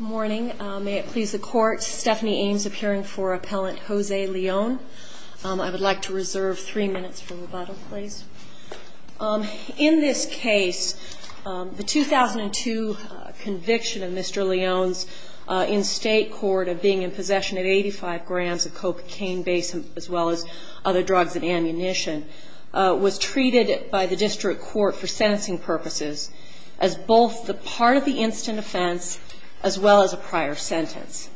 I would like to reserve three minutes for rebuttal, please. In this case, the 2002 conviction of Mr. Leon's in-state court of being in possession of 85 grams of cocaine-based, as well as other drugs and ammunition, was treated by the district court for sentencing purposes as both the part of the instant offense and the part of the in-state offense. As well as a prior sentence.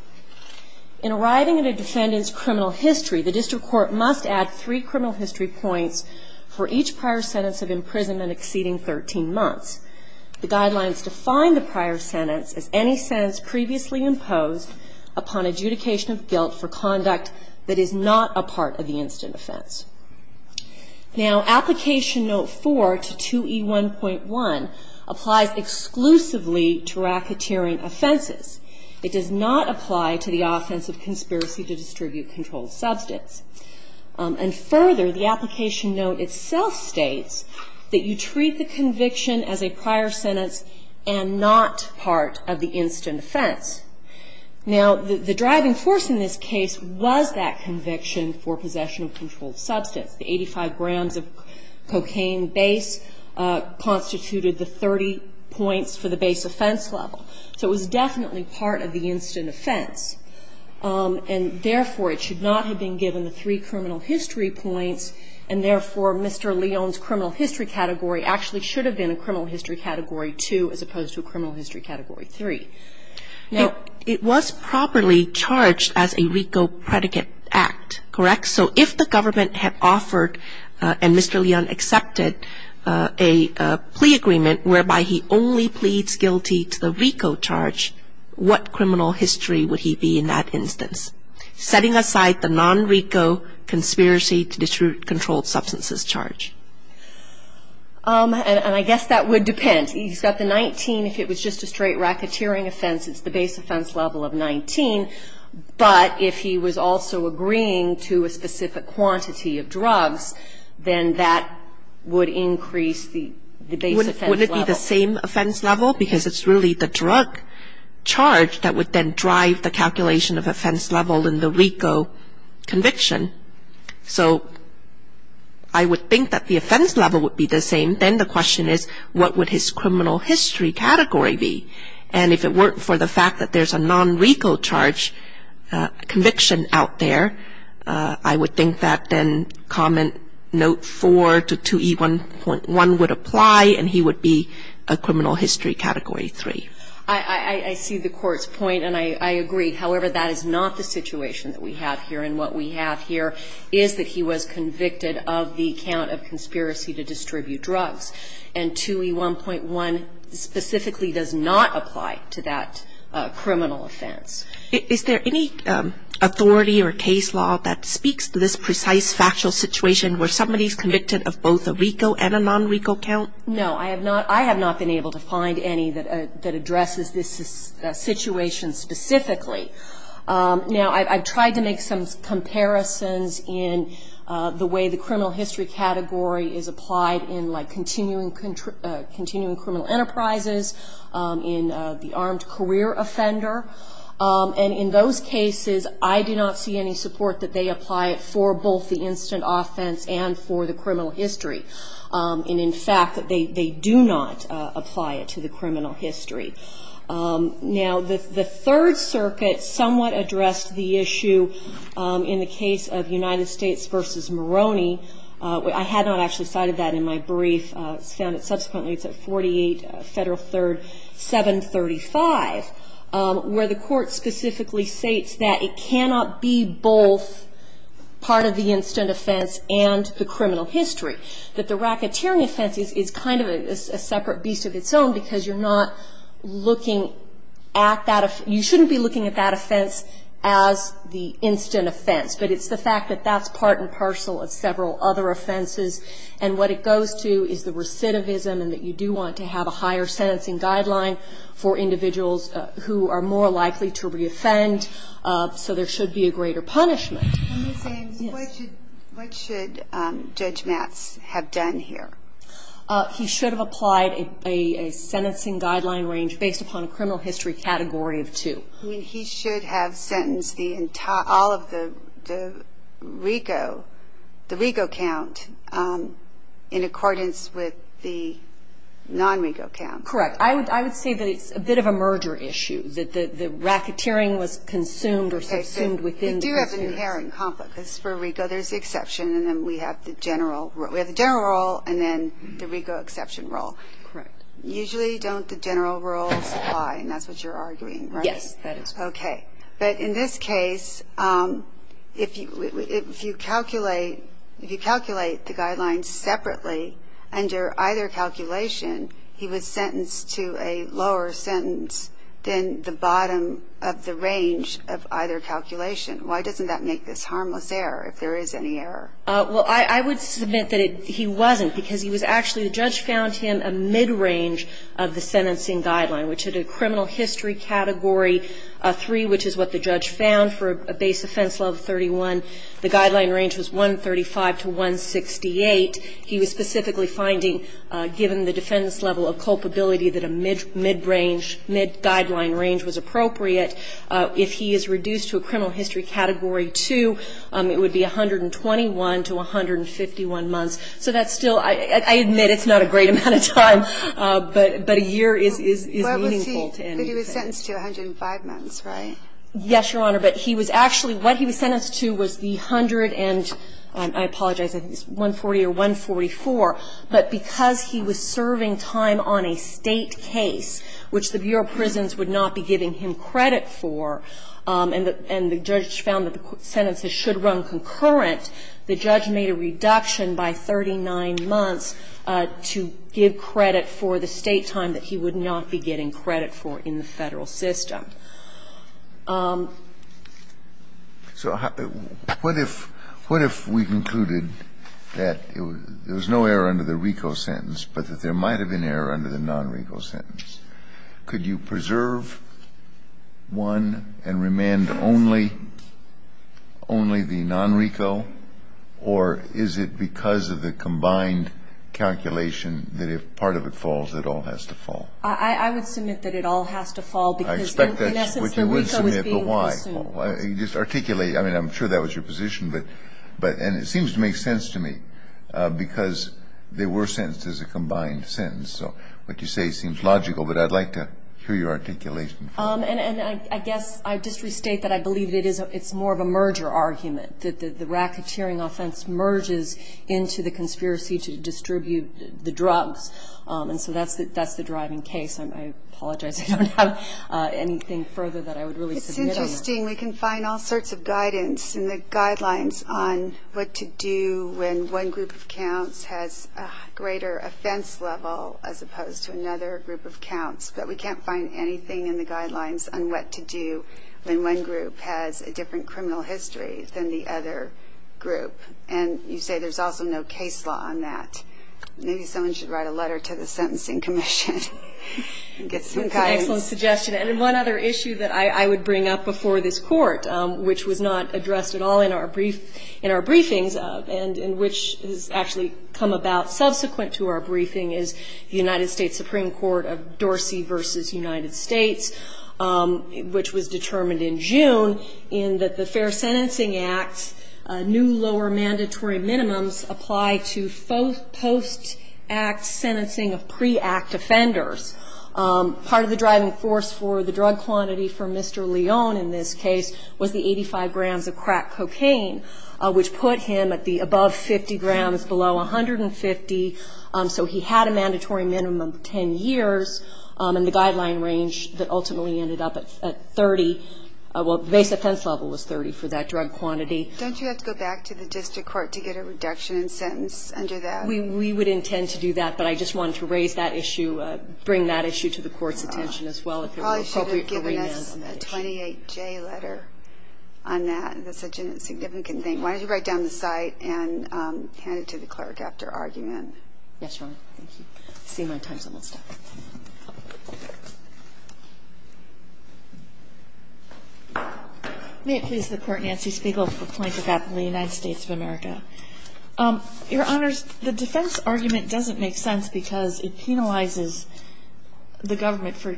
In arriving at a defendant's criminal history, the district court must add three criminal history points for each prior sentence of imprisonment exceeding 13 months. The guidelines define the prior sentence as any sentence previously imposed upon adjudication of guilt for conduct that is not a part of the instant offense. Now, application note 4 to 2E1.1 applies exclusively to racketeering offenses. It does not apply to the offense of conspiracy to distribute controlled substance. And further, the application note itself states that you treat the conviction as a prior sentence and not part of the instant offense. Now, the driving force in this case was that conviction for possession of controlled substance. The 85 grams of cocaine base constituted the 30 points for the base offense level. So it was definitely part of the instant offense. And therefore, it should not have been given the three criminal history points. And therefore, Mr. Leon's criminal history category actually should have been a criminal history category 2 as opposed to a criminal history category 3. Now, it was properly charged as a RICO predicate act, correct? So if the government had offered and Mr. Leon accepted a plea agreement whereby he only pleads guilty to the RICO charge, what criminal history would he be in that instance? Setting aside the non-RICO conspiracy to distribute controlled substances charge. And I guess that would depend. He's got the 19. If it was just a straight racketeering offense, it's the base offense level of 19. But if he was also agreeing to a specific quantity of drugs, then that would increase the base offense level. So wouldn't it be the same offense level? Because it's really the drug charge that would then drive the calculation of offense level in the RICO conviction. So I would think that the offense level would be the same. Then the question is, what would his criminal history category be? And if it weren't for the fact that there's a non-RICO charge conviction out there, I would think that then comment note 4 to 2E1.1 would apply and he would be charged. And I think that would be a criminal history category 3. I see the Court's point and I agree. However, that is not the situation that we have here. And what we have here is that he was convicted of the count of conspiracy to distribute drugs. And 2E1.1 specifically does not apply to that criminal offense. Is there any authority or case law that speaks to this precise factual situation where somebody's convicted of both a RICO and a non-RICO count? No. I have not been able to find any that addresses this situation specifically. Now, I've tried to make some comparisons in the way the criminal history category is applied in continuing criminal enterprises, in the armed career offender. And in those cases, I do not see any support that they apply it for both the instant offense and for the criminal history. And in fact, they do not apply it to the criminal history. Now, the Third Circuit somewhat addressed the issue in the case of United States v. Moroni. I had not actually cited that in my brief. It's found that subsequently it's at 48 Federal 3rd 735, where the Court specifically states that it cannot be both part of the instant offense and the criminal history. That the racketeering offense is kind of a separate beast of its own because you're not looking at that. You shouldn't be looking at that offense as the instant offense. But it's the fact that that's part and parcel of several other offenses. And what it goes to is the recidivism and that you do want to have a higher sentencing guideline for individuals who are more likely to reoffend. So there should be a greater punishment. Let me say, what should Judge Matz have done here? He should have applied a sentencing guideline range based upon a criminal history category of two. He should have sentenced all of the RICO, the RICO count, in accordance with the non-RICO count. Correct. I would say that it's a bit of a merger issue, that the racketeering was consumed or subsumed within prisoners. Because for RICO, there's the exception and then we have the general rule. We have the general rule and then the RICO exception rule. Correct. Usually, don't the general rules apply? And that's what you're arguing, right? Yes, that is correct. Okay. But in this case, if you calculate the guidelines separately under either calculation, he was sentenced to a lower sentence than the bottom of the range of either calculation. Why doesn't that make this harmless error, if there is any error? Well, I would submit that he wasn't, because he was actually the judge found him a mid-range of the sentencing guideline, which had a criminal history category of three, which is what the judge found for a base offense level 31. The guideline range was 135 to 168. He was specifically finding, given the defendant's level of culpability, that a mid-range, mid-guideline range was appropriate. If he is reduced to a criminal history category 2, it would be 121 to 151 months. So that's still, I admit it's not a great amount of time, but a year is meaningful to him. But he was sentenced to 105 months, right? Yes, Your Honor. But he was actually, what he was sentenced to was the hundred and, I apologize, I think it's 140 or 144. But because he was serving time on a State case, which the Bureau of Prisons would not be giving him credit for, and the judge found that the sentences should run concurrent, the judge made a reduction by 39 months to give credit for the State time that he would not be getting credit for in the Federal system. So what if we concluded that there was no error under the RICO sentence, but that there might have been error under the non-RICO sentence? Could you preserve one and remand only the non-RICO? Or is it because of the combined calculation that if part of it falls, it all has to fall? I would submit that it all has to fall because, in essence, the RICO was being I expect that's what you would submit. But why? You just articulate. I mean, I'm sure that was your position. And it seems to make sense to me because they were sentenced as a combined sentence. So what you say seems logical, but I'd like to hear your articulation. And I guess I'd just restate that I believe it's more of a merger argument, that the racketeering offense merges into the conspiracy to distribute the drugs. And so that's the driving case. I apologize. I don't have anything further that I would really submit on that. It's interesting. We can find all sorts of guidance in the guidelines on what to do when one group of counts has a greater offense level as opposed to another group of counts. But we can't find anything in the guidelines on what to do when one group has a different criminal history than the other group. And you say there's also no case law on that. Maybe someone should write a letter to the Sentencing Commission and get some guidance. That's an excellent suggestion. And one other issue that I would bring up before this court, which was not actually come about subsequent to our briefing, is the United States Supreme Court of Dorsey v. United States, which was determined in June, in that the Fair Sentencing Act's new lower mandatory minimums apply to post-act sentencing of pre-act offenders. Part of the driving force for the drug quantity for Mr. Leone in this case was the 85 grams of crack cocaine, which put him at the above 50 grams, below 150. So he had a mandatory minimum of 10 years. And the guideline range that ultimately ended up at 30, well, the base offense level was 30 for that drug quantity. Don't you have to go back to the district court to get a reduction in sentence under that? We would intend to do that. But I just wanted to raise that issue, bring that issue to the court's attention as well. Probably should have given us a 28-J letter on that. That's such a significant thing. Why don't you write down the site and hand it to the clerk after argument. Yes, Your Honor. Thank you. I've seen my time's almost up. May it please the Court, Nancy Spiegel for plaintiff at the United States of America. Your Honors, the defense argument doesn't make sense because it penalizes the government for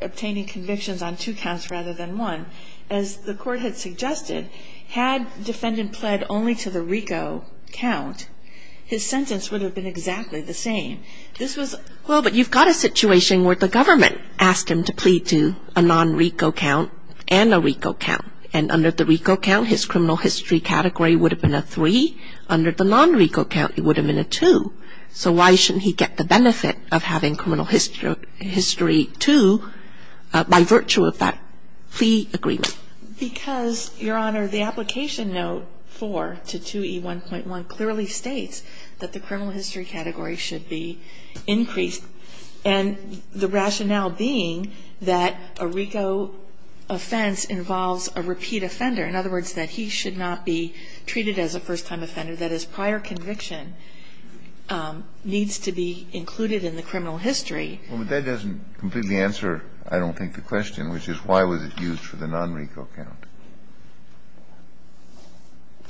obtaining convictions on two counts rather than one. As the court had suggested, had defendant pled only to the RICO count, his sentence would have been exactly the same. Well, but you've got a situation where the government asked him to plead to a non-RICO count and a RICO count. And under the RICO count, his criminal history category would have been a 3. Under the non-RICO count, it would have been a 2. So why shouldn't he get the benefit of having criminal history 2 by virtue of that plea agreement? Because, Your Honor, the application note 4 to 2E1.1 clearly states that the criminal history category should be increased. And the rationale being that a RICO offense involves a repeat offender. In other words, that he should not be treated as a first-time offender. the non-RICO count is a prior offender. That is, prior conviction needs to be included in the criminal history. Well, but that doesn't completely answer, I don't think, the question, which is why was it used for the non-RICO count.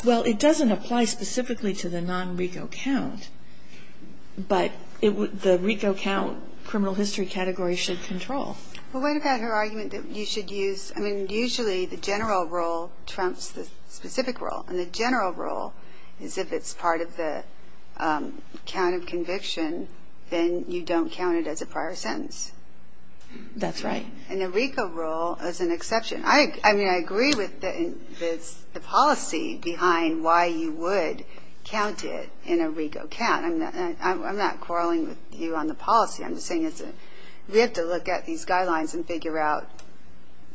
Well, it doesn't apply specifically to the non-RICO count. But the RICO count criminal history category should control. Well, what about her argument that you should use, I mean, usually the general rule trumps the specific rule. And the general rule is if it's part of the count of conviction, then you don't count it as a prior sentence. That's right. And the RICO rule is an exception. I mean, I agree with the policy behind why you would count it in a RICO count. I'm not quarreling with you on the policy. I'm just saying we have to look at these guidelines and figure out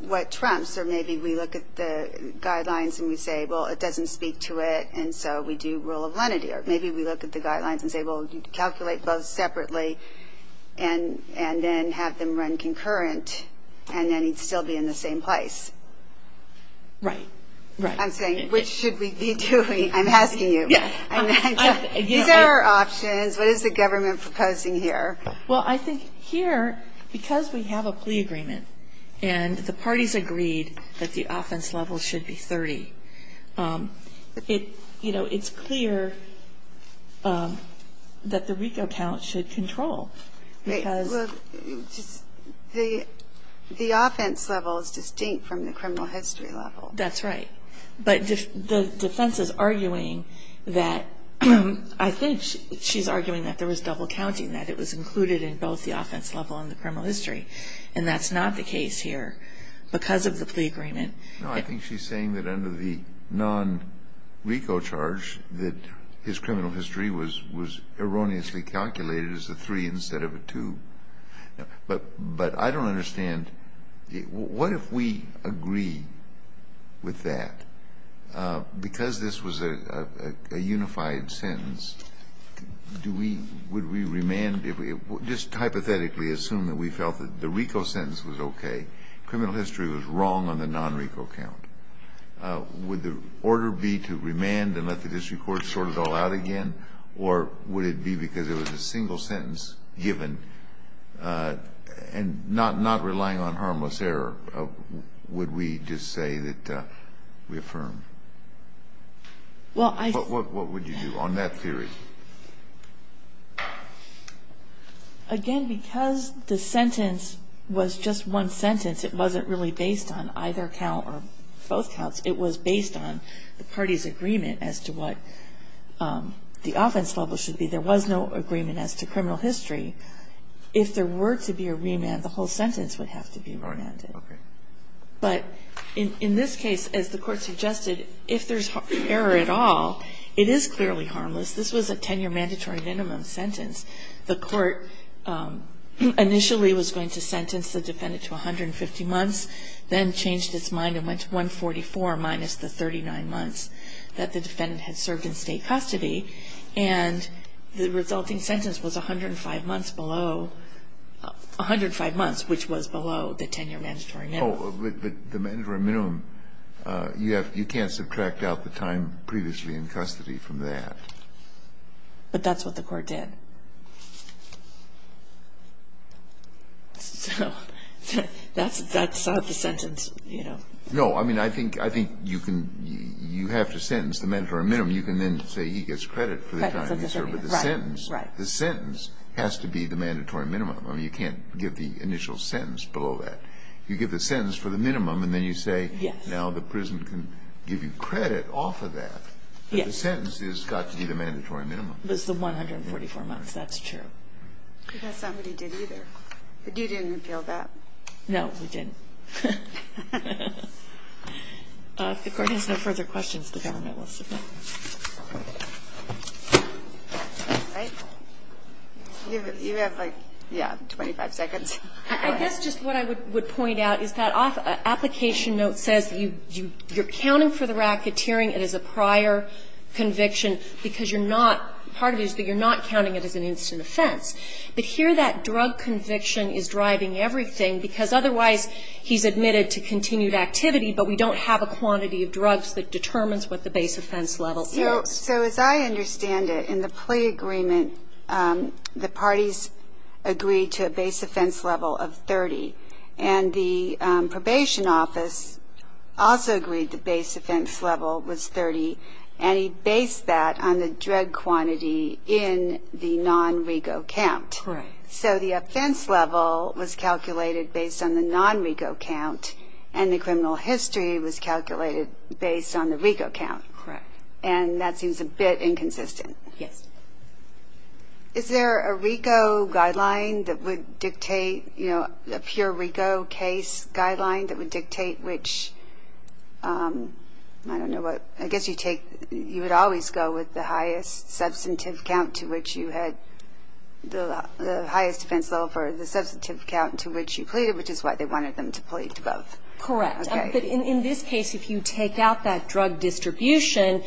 what trumps. Or maybe we look at the guidelines and we say, well, it doesn't speak to it, and so we do rule of lenity. Or maybe we look at the guidelines and say, well, calculate both separately and then have them run concurrent, and then you'd still be in the same place. Right. Right. I'm saying, which should we be doing? I'm asking you. These are our options. What is the government proposing here? Well, I think here, because we have a plea agreement and the parties agreed that the offense level should be 30, it's clear that the RICO count should control. Well, the offense level is distinct from the criminal history level. That's right. But the defense is arguing that I think she's arguing that there was double counting, that it was included in both the offense level and the criminal history. And that's not the case here because of the plea agreement. No, I think she's saying that under the non-RICO charge, that his criminal history was erroneously calculated as a 3 instead of a 2. But I don't understand. What if we agree with that? Because this was a unified sentence, would we remand? Just hypothetically assume that we felt that the RICO sentence was okay. Criminal history was wrong on the non-RICO count. Would the order be to remand and let the district court sort it all out again? Or would it be because it was a single sentence given and not relying on harmless error? Would we just say that we affirm? Well, I think. What would you do on that theory? Again, because the sentence was just one sentence, it wasn't really based on either count or both counts. It was based on the party's agreement as to what the offense level should be. There was no agreement as to criminal history. If there were to be a remand, the whole sentence would have to be remanded. Right. Okay. But in this case, as the Court suggested, if there's error at all, it is clearly harmless. This was a 10-year mandatory minimum sentence. The Court initially was going to sentence the defendant to 150 months, then changed its mind and went to 144 minus the 39 months that the defendant had served in state custody. And the resulting sentence was 105 months below the 10-year mandatory minimum. But the mandatory minimum, you can't subtract out the time previously in custody from that. But that's what the Court did. So that's not the sentence, you know. No. I mean, I think you have to sentence the mandatory minimum. You can then say he gets credit for the time he served with the sentence. Right. Right. The sentence has to be the mandatory minimum. I mean, you can't give the initial sentence below that. You give the sentence for the minimum, and then you say, now the prison can give you credit off of that. Yes. But the sentence has got to be the mandatory minimum. It was the 144 months. That's true. I guess somebody did either. But you didn't repeal that. No, we didn't. If the Court has no further questions, the government will submit. All right. You have, like, yeah, 25 seconds. I guess just what I would point out is that application note says you're counting it as a prior conviction because you're not, part of it is that you're not counting it as an instant offense. But here that drug conviction is driving everything because otherwise he's admitted to continued activity, but we don't have a quantity of drugs that determines what the base offense level is. So as I understand it, in the plea agreement, the parties agreed to a base offense level of 30, and the probation office also agreed the base offense level was 30, and he based that on the drug quantity in the non-RICO count. Right. So the offense level was calculated based on the non-RICO count, and the criminal history was calculated based on the RICO count. Correct. And that seems a bit inconsistent. Yes. Is there a RICO guideline that would dictate, you know, a pure RICO case guideline that would dictate which, I don't know what, I guess you take, you would always go with the highest substantive count to which you had the highest defense level for the substantive count to which you pleaded, which is why they wanted them to plead both. Correct. Okay. In this case, if you take out that drug distribution,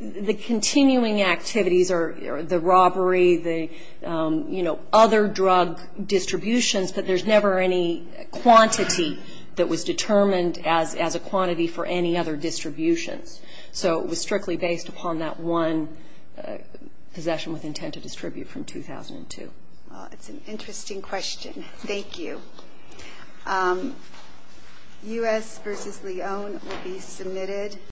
the continuing activities are the robbery, the, you know, other drug distributions, but there's never any quantity that was determined as a quantity for any other distributions. So it was strictly based upon that one possession with intent to distribute from 2002. It's an interesting question. Thank you. U.S. versus Lyon will be submitted.